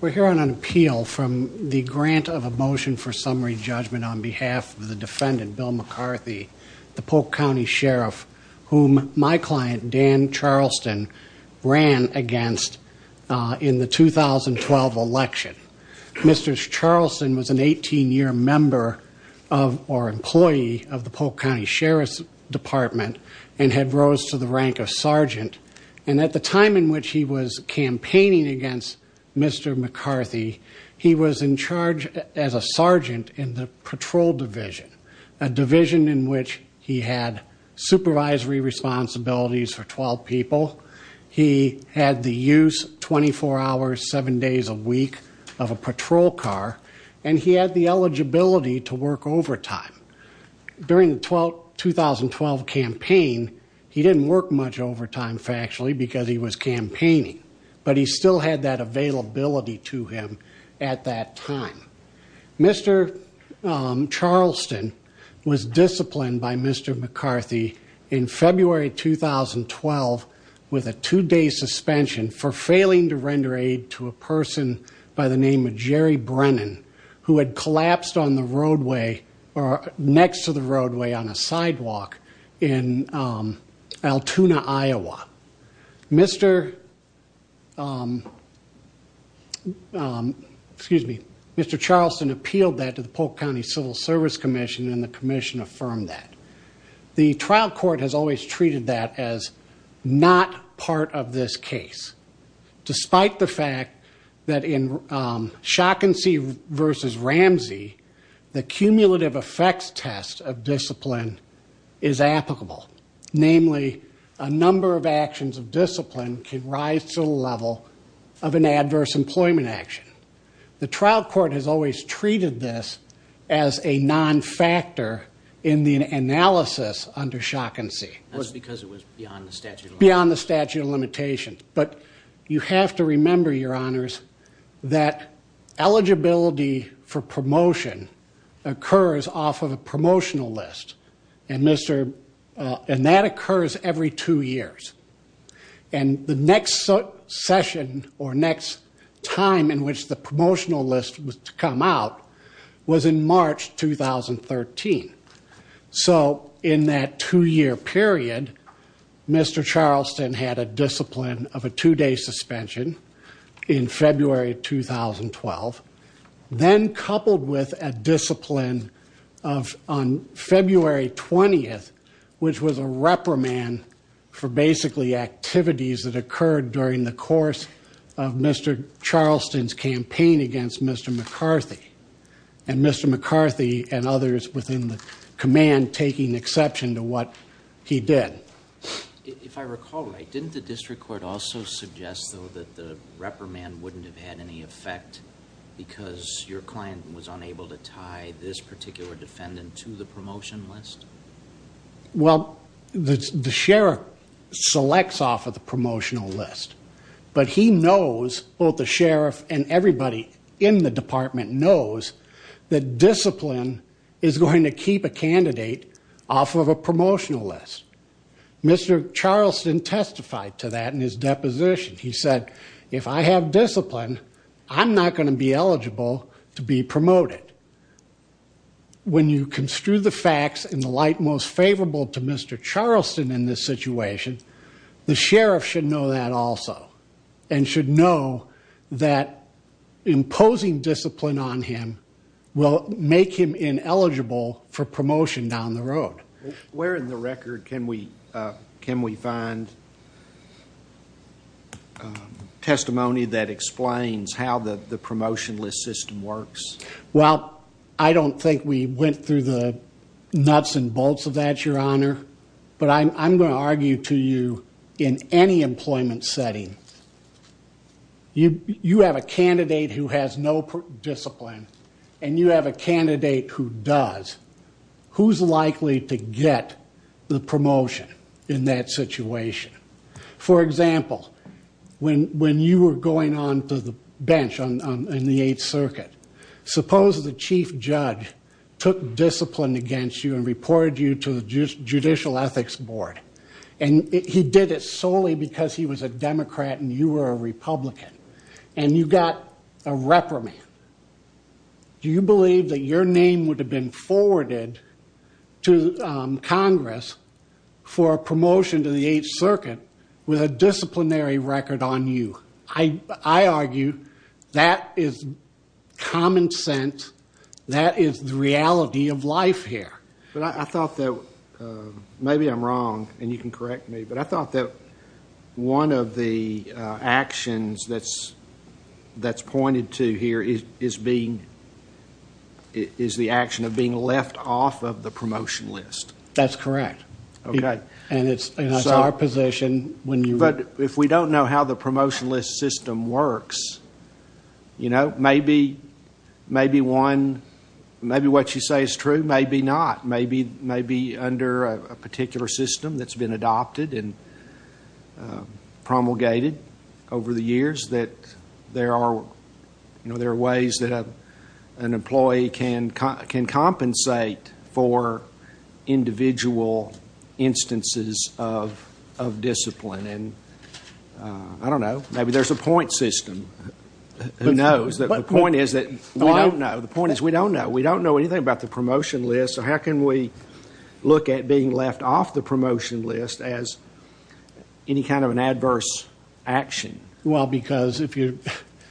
We're here on an appeal from the grant of a motion for summary judgment on behalf of the defendant Bill McCarthy the Polk County Sheriff whom my client Dan Charleston ran against in the 2012 election. Mr. Charleston was an 18-year member of or employee of the Polk County Sheriff's Department and had rose to the against Mr. McCarthy. He was in charge as a sergeant in the patrol division, a division in which he had supervisory responsibilities for 12 people. He had the use 24 hours 7 days a week of a patrol car and he had the eligibility to work overtime. During the 2012 campaign he didn't work much overtime because he was campaigning but he still had that availability to him at that time. Mr. Charleston was disciplined by Mr. McCarthy in February 2012 with a two-day suspension for failing to render aid to a person by the name of Jerry Brennan who had collapsed on the roadway or next to the roadway on a sidewalk in Altoona, Iowa. Mr. Charleston appealed that to the Polk County Civil Service Commission and the Commission affirmed that. The trial court has always treated that as not part of this case despite the fact that in namely a number of actions of discipline can rise to the level of an adverse employment action. The trial court has always treated this as a non-factor in the analysis under shock and see. That's because it was beyond the statute of limitations. But you have to remember your honors that eligibility for occurs every two years and the next session or next time in which the promotional list was to come out was in March 2013. So in that two-year period Mr. Charleston had a discipline of a two-day suspension in February 2012 then coupled with a discipline of on February 20th which was a reprimand for basically activities that occurred during the course of Mr. Charleston's campaign against Mr. McCarthy and Mr. McCarthy and others within the command taking exception to what he did. If I recall right, didn't the district court also suggest though that the reprimand wouldn't have had any effect because your client was unable to tie this particular defendant to the promotion list? Well the sheriff selects off of the promotional list but he knows both the sheriff and everybody in the department knows that discipline is going to keep a candidate off of a promotional list. Mr. Charleston testified to that in his to be promoted. When you construe the facts in the light most favorable to Mr. Charleston in this situation the sheriff should know that also and should know that imposing discipline on him will make him ineligible for promotion down the road. Where in the record can we can we find testimony that explains how the promotion list system works? Well I don't think we went through the nuts and bolts of that your honor but I'm gonna argue to you in any employment setting you you have a candidate who has no discipline and you have a candidate who does who's likely to get the promotion in that situation? For example when when you were going on to the bench on the 8th circuit suppose the chief judge took discipline against you and reported you to the judicial ethics board and he did it solely because he was a Democrat and you were a Republican and you got a reprimand. Do you believe that your name would have been forwarded to Congress for a promotion to the 8th circuit with a disciplinary record on you? I I argue that is common sense that is the reality of life here. But I thought that maybe I'm wrong and you can correct me but I thought that one of the actions that's that's pointed to here is is being is the action of being left off of the list. Okay. And it's our position when you. But if we don't know how the promotion list system works you know maybe maybe one maybe what you say is true maybe not maybe maybe under a particular system that's been adopted and promulgated over the years that there are you know there are ways that an employee can can compensate for individual instances of of discipline and I don't know maybe there's a point system who knows that the point is that we don't know the point is we don't know we don't know anything about the promotion list so how can we look at being left off the promotion list as any kind of an adverse action? Well because if you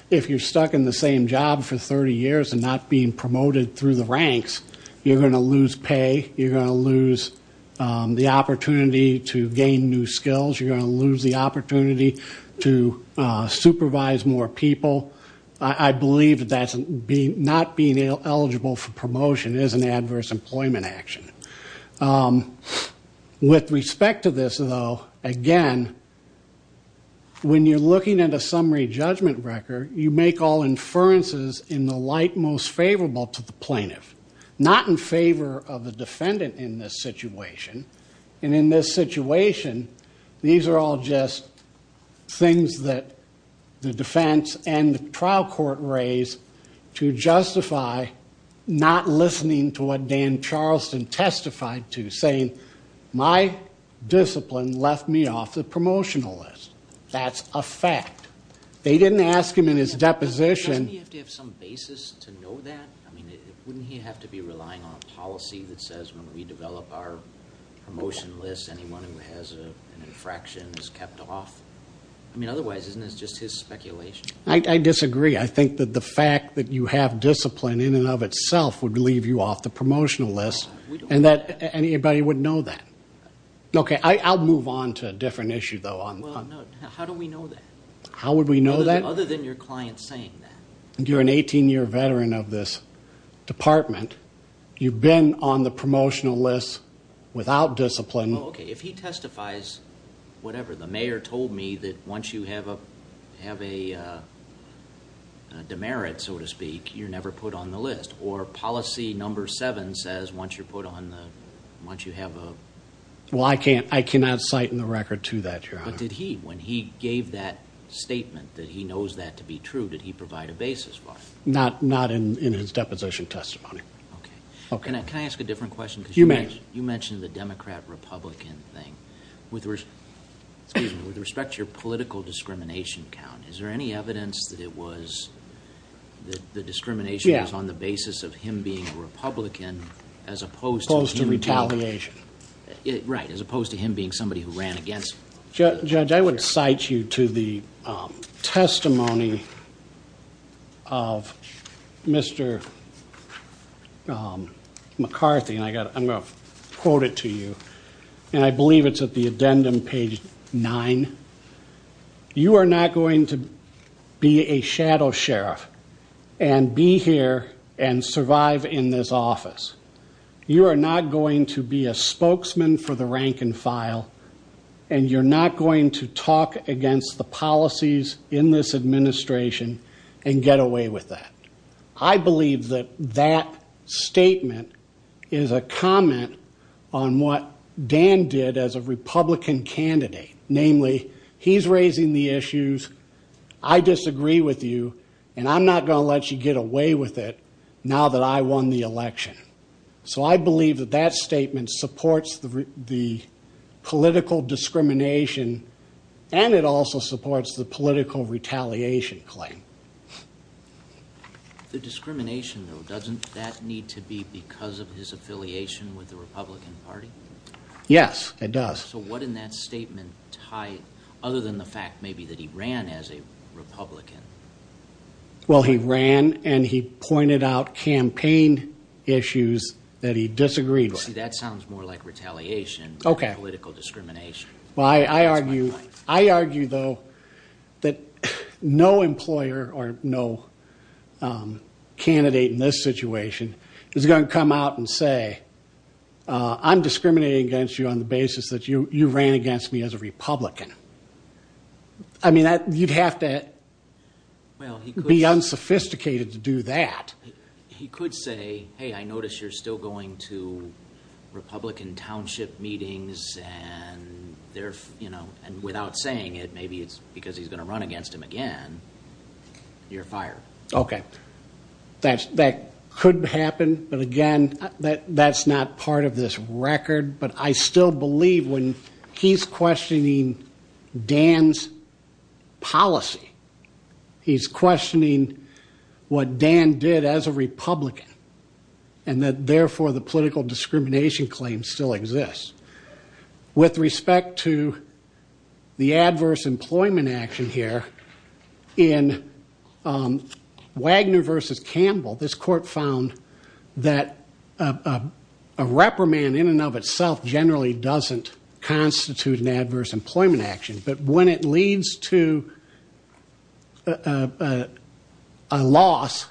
if you're stuck in the same job for 30 years and not being promoted through the ranks you're going to lose pay you're going to lose the opportunity to gain new skills you're going to lose the opportunity to supervise more people. I believe that's being not being eligible for promotion is an adverse employment action. With respect to this though again when you're looking at a summary judgment record you make all inferences in the light most favorable to the plaintiff not in favor of the defendant in this situation and in this situation these are all just things that the defense and the trial court raise to justify not listening to what Dan Charleston testified to saying my discipline left me off the promotional list. That's a fact. They wouldn't he have to be relying on policy that says when we develop our promotion list anyone who has an infraction is kept off I mean otherwise isn't it's just his speculation. I disagree I think that the fact that you have discipline in and of itself would leave you off the promotional list and that anybody would know that. Okay I'll move on to a different issue though. How do we know that? How would we know that? Other than your client saying that. You're an 18 year veteran of this department you've been on the promotional list without discipline. Okay if he testifies whatever the mayor told me that once you have a have a demerit so to speak you're never put on the list or policy number seven says once you're put on the once you have a. Well I can't I cannot cite in the record to that your honor. But did he when he gave that statement that he knows that to be true did he provide a basis for it? Not in his deposition testimony. Okay can I ask a different question? You may. You mentioned the Democrat Republican thing with respect to your political discrimination count is there any evidence that it was the discrimination was on the basis of him being a Republican as opposed to retaliation. Right as opposed to him being somebody who ran against. Judge I would cite you to the testimony of Mr. McCarthy and I got I'm gonna quote it to you and I believe it's at the addendum page nine. You are not going to be a shadow sheriff and be here and survive in this office. You are not going to be a spokesman for the rank-and-file and you're not going to talk against the policies in this administration and get away with that. I believe that that statement is a comment on what Dan did as a Republican candidate. Namely he's raising the issues I disagree with you and I'm not gonna let you get away with it now that I won the election. So I believe that that statement supports the political discrimination and it also supports the political retaliation claim. The discrimination though doesn't that need to be because of his affiliation with the Republican Party? Yes it does. So what in that statement tied other than the fact maybe that he ran as a Republican? Well he ran and he pointed out campaign issues that he disagreed with. See that sounds more like retaliation. Okay. Political discrimination. Well I argue I argue though that no employer or no candidate in this situation is going to come out and say I'm discriminating against you on the basis that you you have to be unsophisticated to do that. He could say hey I notice you're still going to Republican township meetings and they're you know and without saying it maybe it's because he's gonna run against him again you're fired. Okay that's that could happen but again that that's not part of this record but I still believe when he's questioning Dan's policy he's questioning what Dan did as a Republican and that therefore the political discrimination claim still exists. With respect to the adverse employment action here in Wagner versus constitute an adverse employment action but when it leads to a loss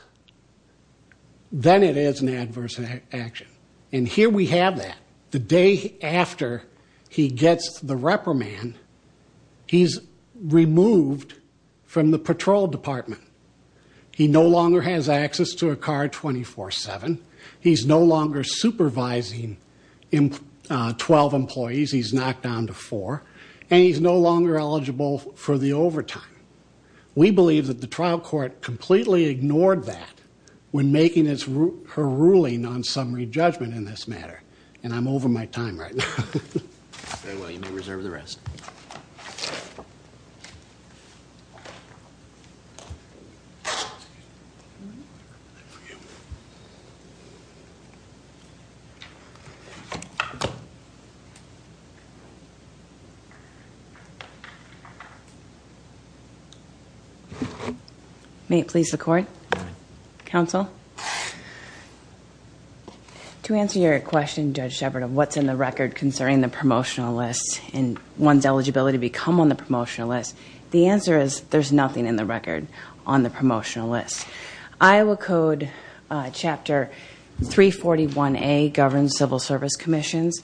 then it is an adverse action and here we have that. The day after he gets the reprimand he's removed from the patrol department. He no longer has access to a car 24-7. He's no employees. He's knocked down to four and he's no longer eligible for the overtime. We believe that the trial court completely ignored that when making his her ruling on summary judgment in this matter and I'm over my time right now. May it please the court. Counsel. To answer your question Judge Sheppard of what's in the record concerning the promotional list and one's eligibility to become on the promotional list. The answer is there's nothing in the record on the promotional list. Iowa Code Chapter 341A governs civil service commissions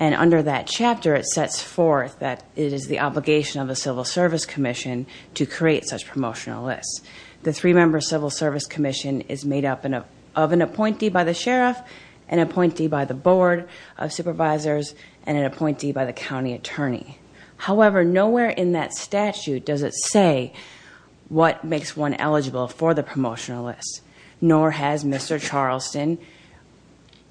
and under that chapter it sets forth that it is the obligation of the Civil Service Commission to create such promotional lists. The three-member Civil Service Commission is made up of an appointee by the sheriff, an appointee by the Board of Supervisors, and an appointee by the county attorney. However, nowhere in that statute does it say what makes one eligible for the promotional list. Nor has Mr. Charleston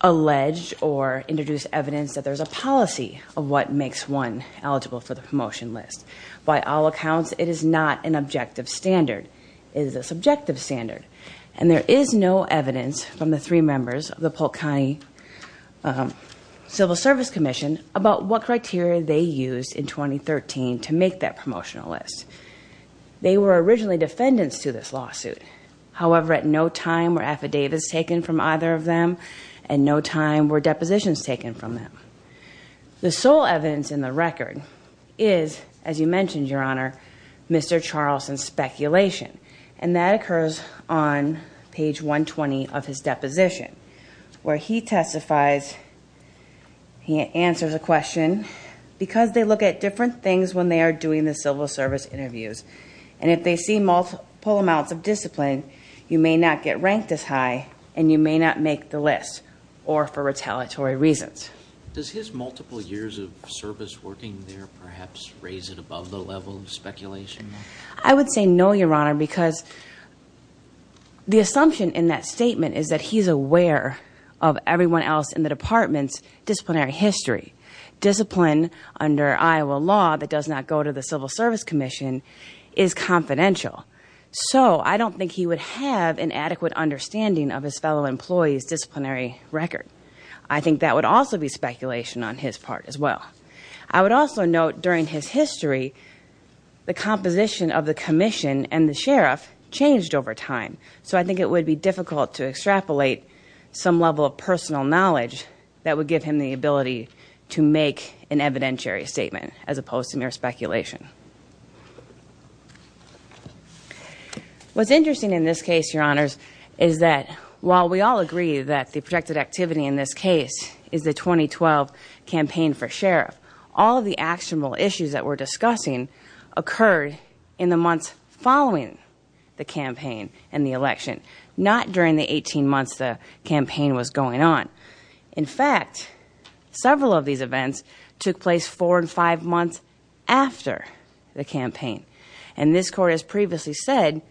alleged or introduced evidence that there's a policy of what makes one eligible for the promotion list. By all accounts it is not an objective standard. It is a subjective standard and there is no evidence from the three members of the Polk County Civil Service Commission about what promotional list. They were originally defendants to this lawsuit. However, at no time were affidavits taken from either of them and no time were depositions taken from them. The sole evidence in the record is, as you mentioned your honor, Mr. Charleston's speculation and that occurs on page 120 of his deposition where he testifies, he answers a question, because they look at different things when they are doing the civil service interviews. And if they see multiple amounts of discipline, you may not get ranked as high and you may not make the list or for retaliatory reasons. Does his multiple years of service working there perhaps raise it above the level of speculation? I would say no your honor because the assumption in that statement is that he's aware of everyone else in the department's disciplinary history. Discipline under Iowa law that does not go to the Civil Service Commission is confidential. So I don't think he would have an adequate understanding of his fellow employees disciplinary record. I think that would also be speculation on his part as well. I would also note during his history the composition of the commission and the sheriff changed over time. So I think it would be difficult to extrapolate some level of personal knowledge that would give him the ability to make an evidentiary statement as opposed to mere speculation. What's interesting in this case your honors is that while we all agree that the protected activity in this case is the 2012 campaign for sheriff, all the actionable issues that we're discussing occurred in the months following the campaign and the election. Not during the In fact, several of these events took place four and five months after the campaign. And this court has previously said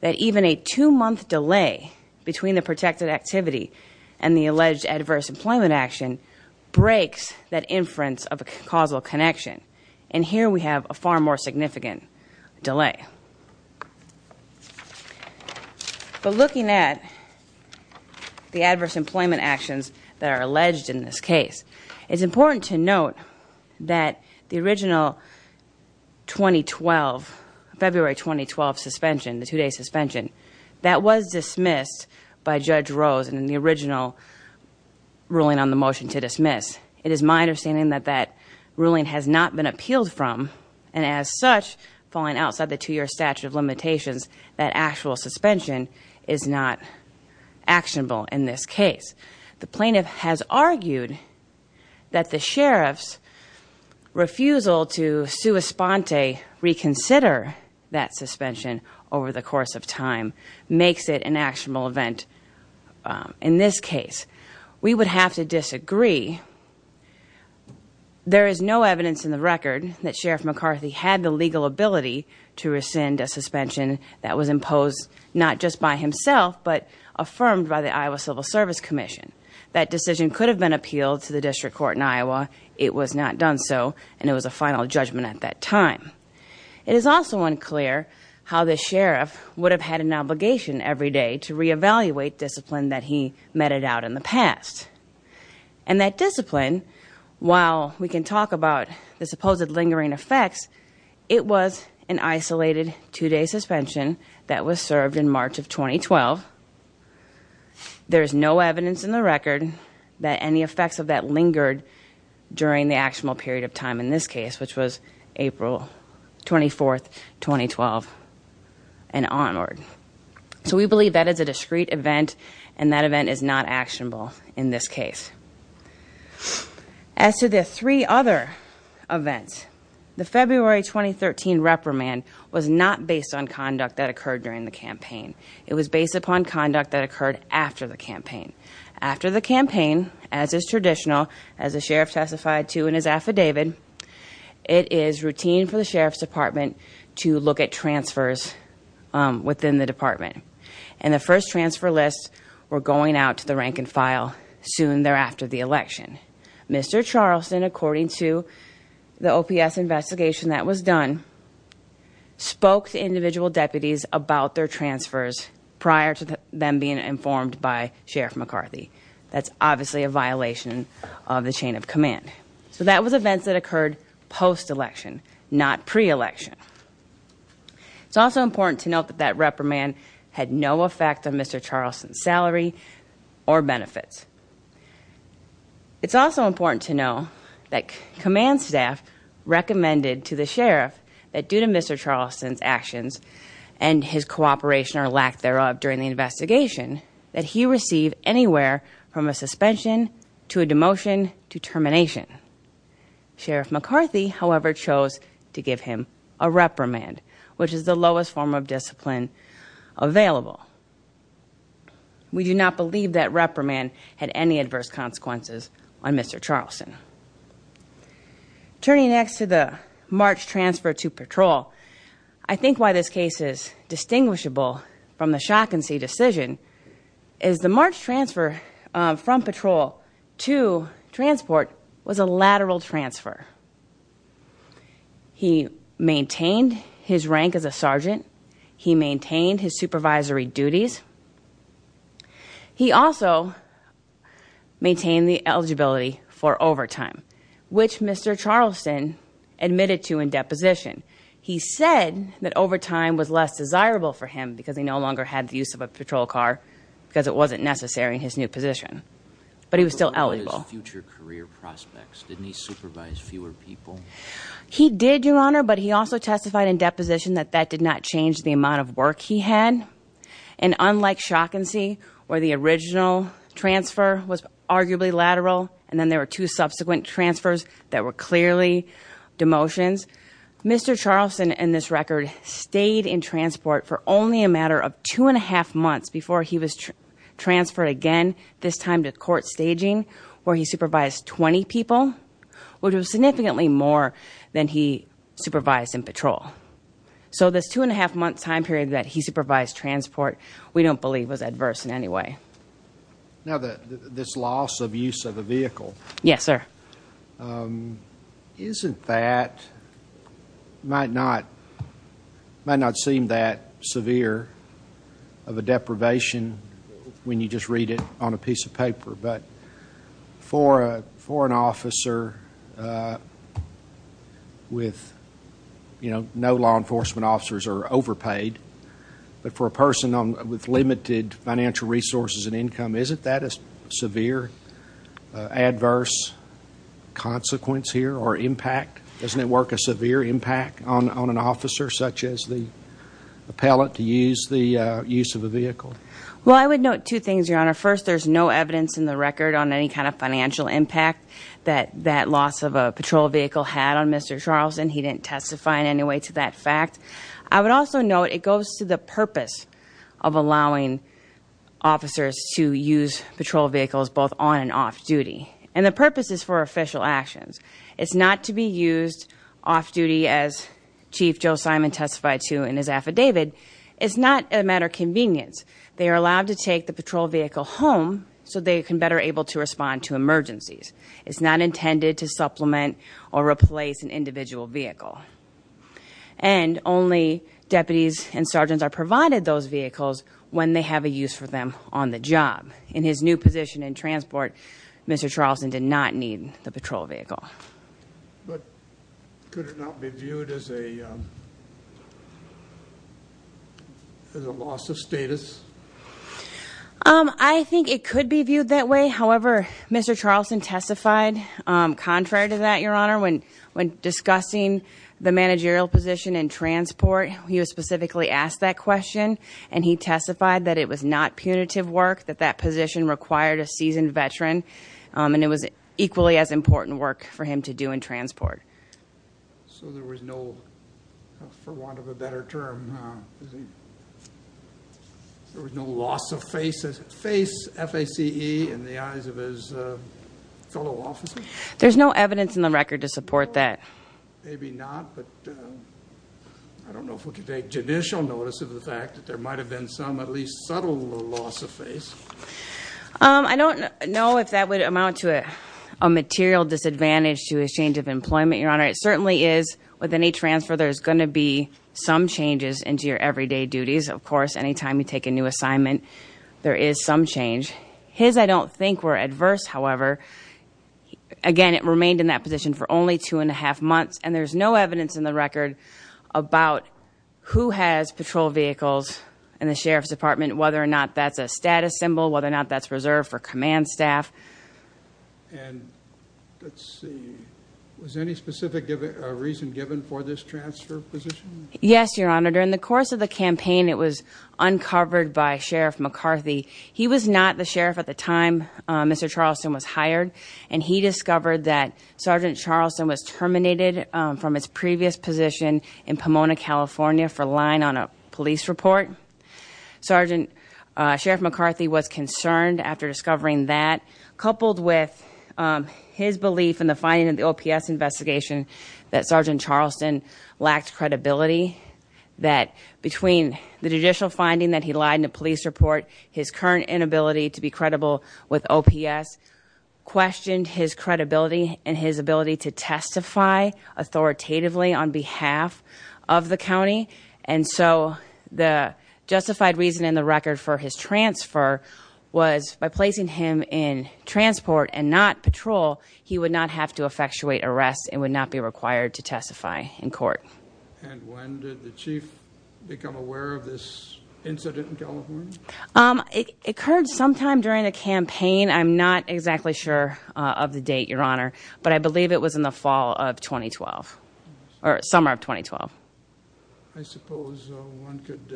that even a two-month delay between the protected activity and the alleged adverse employment action breaks that inference of a causal connection. And here we have a far more significant delay. But looking at the adverse employment actions that are alleged in this case, it's important to note that the original 2012, February 2012 suspension, the two-day suspension, that was dismissed by Judge Rose in the original ruling on the motion to dismiss. It is my understanding that that ruling has not been appealed from and as such, falling outside the two-year statute of limitations, that actual suspension is not actionable in this case. The plaintiff has argued that the sheriff's refusal to sua sponte reconsider that suspension over the course of time makes it an actionable event in this case. We would have to disagree. There is no evidence in the record that Sheriff McCarthy had the legal ability to rescind a suspension that was imposed not just by himself but affirmed by the Iowa Civil Service Commission. That decision could have been appealed to the district court in Iowa. It was not done so and it was a final judgment at that time. It is also unclear how the sheriff would have had an obligation every day to reevaluate discipline that he meted out in the past. And that discipline, while we can talk about the supposed lingering effects, it was an isolated two-day suspension that was served in March of 2012. There is no evidence in the record that any effects of that lingered during the actionable period of time in this case, which was April 24, 2012 and onward. So we believe that is a discrete event and that event is not actionable. In this case, as to the three other events, the February 2013 reprimand was not based on conduct that occurred during the campaign. It was based upon conduct that occurred after the campaign. After the campaign, as is traditional, as the sheriff testified to in his affidavit, it is routine for the sheriff's department to look at transfers within the department. And the first transfer lists were going out to the rank-and-file soon thereafter the election. Mr. Charleston, according to the OPS investigation that was done, spoke to individual deputies about their transfers prior to them being informed by Sheriff McCarthy. That's obviously a violation of the chain of command. So that was events that occurred post-election, not pre-election. It's also important to note that that reprimand had no effect on Mr. Charleston's salary or benefits. It's also important to know that command staff recommended to the sheriff that due to Mr. Charleston's actions and his cooperation or lack thereof during the investigation, that he receive anywhere from a suspension to a demotion to termination. Sheriff McCarthy, however, chose to give him a reprimand, which is the lowest form of discipline available. We do not believe that reprimand had any adverse consequences on Mr. Charleston. Turning next to the March transfer to patrol, I think why this case is distinguishable from the shock and see decision is the March transfer from patrol to transport was a He maintained his rank as a sergeant. He maintained his supervisory duties. He also maintained the eligibility for overtime, which Mr. Charleston admitted to in deposition. He said that overtime was less desirable for him because he no longer had the use of a patrol car because it wasn't necessary in his new position. But he was still eligible. He did, Your Honor, but he also testified in position that that did not change the amount of work he had. And unlike shock and see where the original transfer was arguably lateral and then there were two subsequent transfers that were clearly demotions, Mr. Charleston and this record stayed in transport for only a matter of two and a half months before he was transferred again, this time to court staging where he supervised 20 people, which was significantly more than he supervised in patrol. So this two and a half month time period that he supervised transport, we don't believe was adverse in any way. Now that this loss of use of a vehicle. Yes, sir. Isn't that might not might not seem that severe of a deprivation when you just read it on a piece of paper, but for a for an officer with, you know, no law enforcement officers are overpaid, but for a person on with limited financial resources and income, isn't that a severe adverse consequence here or impact? Doesn't it work a severe impact on an officer such as the appellate to use the use of a vehicle? Well, I would note two things, your honor. First, there's no evidence in the record on any kind of financial impact that that loss of a patrol vehicle had on Mr. Charleston. He didn't testify in any way to that fact. I would also note it goes to the purpose of allowing officers to use patrol vehicles both on and off duty. And the purpose is for official actions. It's not to be used off-duty as Chief Joe Simon testified to in his affidavit. It's not a matter of convenience. They are allowed to take the patrol vehicle home so they can better able to respond to emergencies. It's not intended to supplement or replace an individual vehicle. And only deputies and sergeants are provided those vehicles when they have a use for them on the job. In his position in transport, Mr. Charleston did not need the patrol vehicle. But could it not be viewed as a loss of status? I think it could be viewed that way. However, Mr. Charleston testified contrary to that, your honor. When discussing the managerial position in transport, he was specifically asked that question and he required a seasoned veteran. And it was equally as important work for him to do in transport. So there was no, for want of a better term, there was no loss of face F-A-C-E in the eyes of his fellow officers? There's no evidence in the record to support that. Maybe not, but I don't know if we can take judicial notice of the I don't know if that would amount to a material disadvantage to a change of employment, your honor. It certainly is with any transfer there's going to be some changes into your everyday duties. Of course, anytime you take a new assignment there is some change. His I don't think were adverse, however. Again, it remained in that position for only two and a half months and there's no evidence in the record about who has patrol vehicles in the Sheriff's Department, whether or not that's a status symbol, whether or not that's reserved for command staff. And let's see, was any specific reason given for this transfer position? Yes, your honor. During the course of the campaign, it was uncovered by Sheriff McCarthy. He was not the sheriff at the time Mr. Charleston was hired and he discovered that Sergeant Charleston was terminated from his previous position in Pomona, California for lying on a police report. Sergeant Sheriff McCarthy was concerned after discovering that, coupled with his belief in the finding of the OPS investigation, that Sergeant Charleston lacked credibility. That between the judicial finding that he lied in a police report, his current inability to be credible with OPS, questioned his credibility and his ability to testify authoritatively on behalf of the county. And so the justified reason in the record for his transfer was by placing him in transport and not patrol, he would not have to effectuate arrest and would not be required to testify in court. And when did the chief become aware of this incident in California? It occurred sometime during a campaign. I'm not exactly sure of the date, your 2012 or summer of 2012. I suppose one could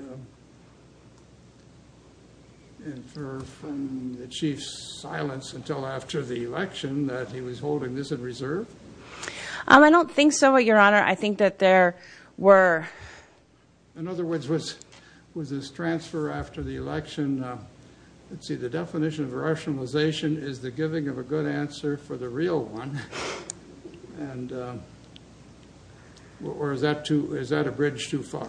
infer from the chief's silence until after the election that he was holding this in reserve? I don't think so, your honor. I think that there were... In other words, was this transfer after the election, let's see, the definition of a good answer for the real one, or is that a bridge too far?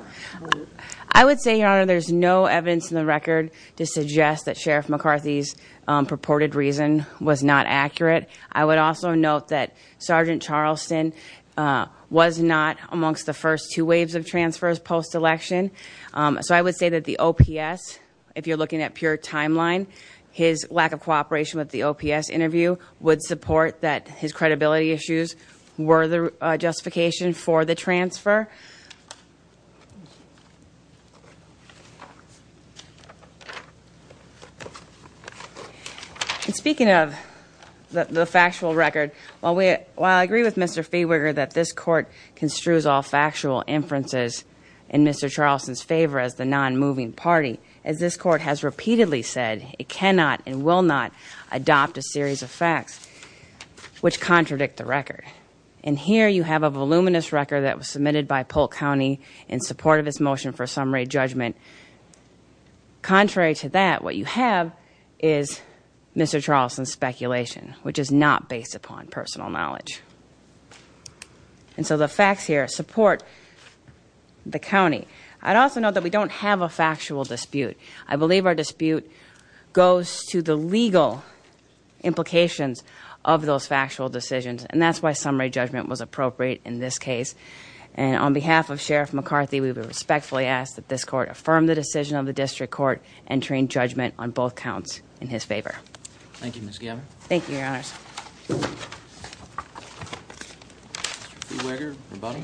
I would say, your honor, there's no evidence in the record to suggest that Sheriff McCarthy's purported reason was not accurate. I would also note that Sergeant Charleston was not amongst the first two waves of transfers post-election, so I would say that the OPS, if you're looking at pure timeline, his lack of would support that his credibility issues were the justification for the transfer. Speaking of the factual record, while I agree with Mr. Fehwiger that this court construes all factual inferences in Mr. Charleston's favor as the non-moving party, as this court has repeatedly said, it cannot and will not adopt a series of facts which contradict the record. And here you have a voluminous record that was submitted by Polk County in support of its motion for summary judgment. Contrary to that, what you have is Mr. Charleston's speculation, which is not based upon personal knowledge. And so the facts here support the county. I'd also note that we don't have a factual dispute. I believe our dispute goes to the legal implications of those factual decisions. And that's why summary judgment was appropriate in this case. And on behalf of Sheriff McCarthy, we would respectfully ask that this court affirm the decision of the district court entering judgment on both counts in his favor. Thank you, Ms. Gabbard. Thank you, Your Honors. Mr. Fehwiger, rebuttal?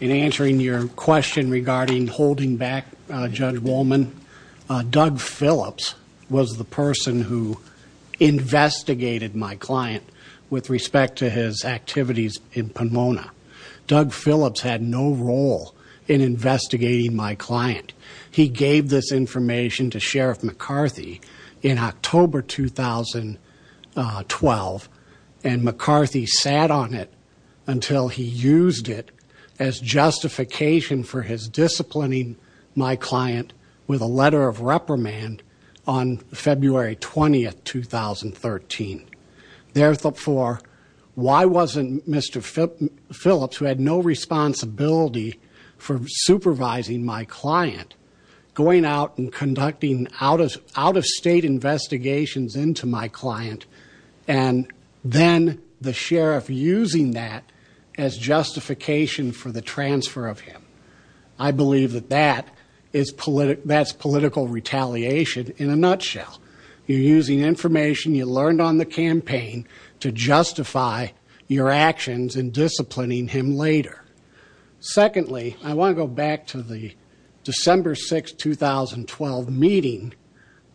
In answering your question regarding holding back Judge Wollman, Doug Phillips was the person who investigated my client with respect to his activities in Pomona. Doug Phillips had no role in investigating my client. He gave this in 2012, and McCarthy sat on it until he used it as justification for his disciplining my client with a letter of reprimand on February 20, 2013. Therefore, why wasn't Mr. Phillips, who had no responsibility for supervising my client, and then the sheriff using that as justification for the transfer of him? I believe that that's political retaliation in a nutshell. You're using information you learned on the campaign to justify your actions in disciplining him later. Secondly, I want to go back to the December 6, 2012 meeting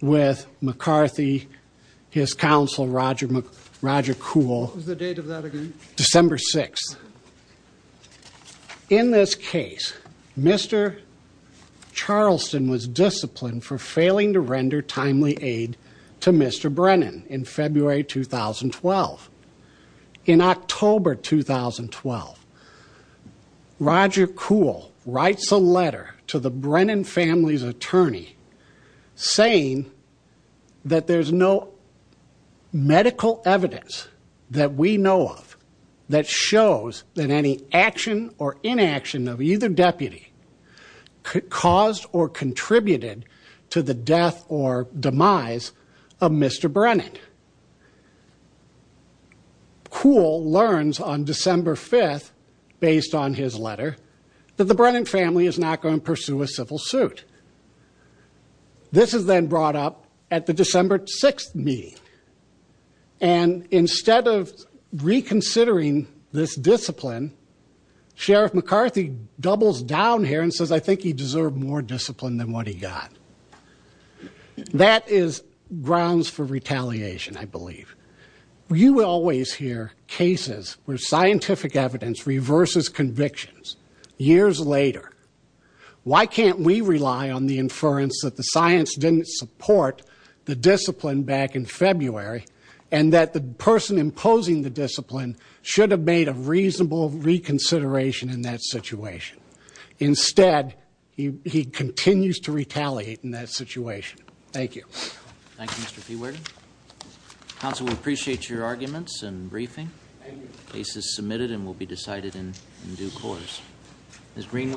with McCarthy, his counsel Roger Kuhl. What was the date of that again? December 6. In this case, Mr. Charleston was disciplined for failing to render timely aid to Mr. Brennan in February 2012. In October 2012, Roger Kuhl writes a letter to the Brennan family's saying that there's no medical evidence that we know of that shows that any action or inaction of either deputy could cause or contributed to the death or demise of Mr. Brennan. Kuhl learns on December 5, based on his letter, that the case is then brought up at the December 6 meeting. And instead of reconsidering this discipline, Sheriff McCarthy doubles down here and says, I think he deserved more discipline than what he got. That is grounds for retaliation, I believe. You always hear cases where scientific evidence reverses convictions years later. Why can't we rely on the inference that the science didn't support the discipline back in February and that the person imposing the discipline should have made a reasonable reconsideration in that situation? Instead, he continues to retaliate in that situation. Thank you. Thank you, Mr. P. Weirden. Counsel, we appreciate your arguments and briefing. The case is submitted and will be decided in due course. This green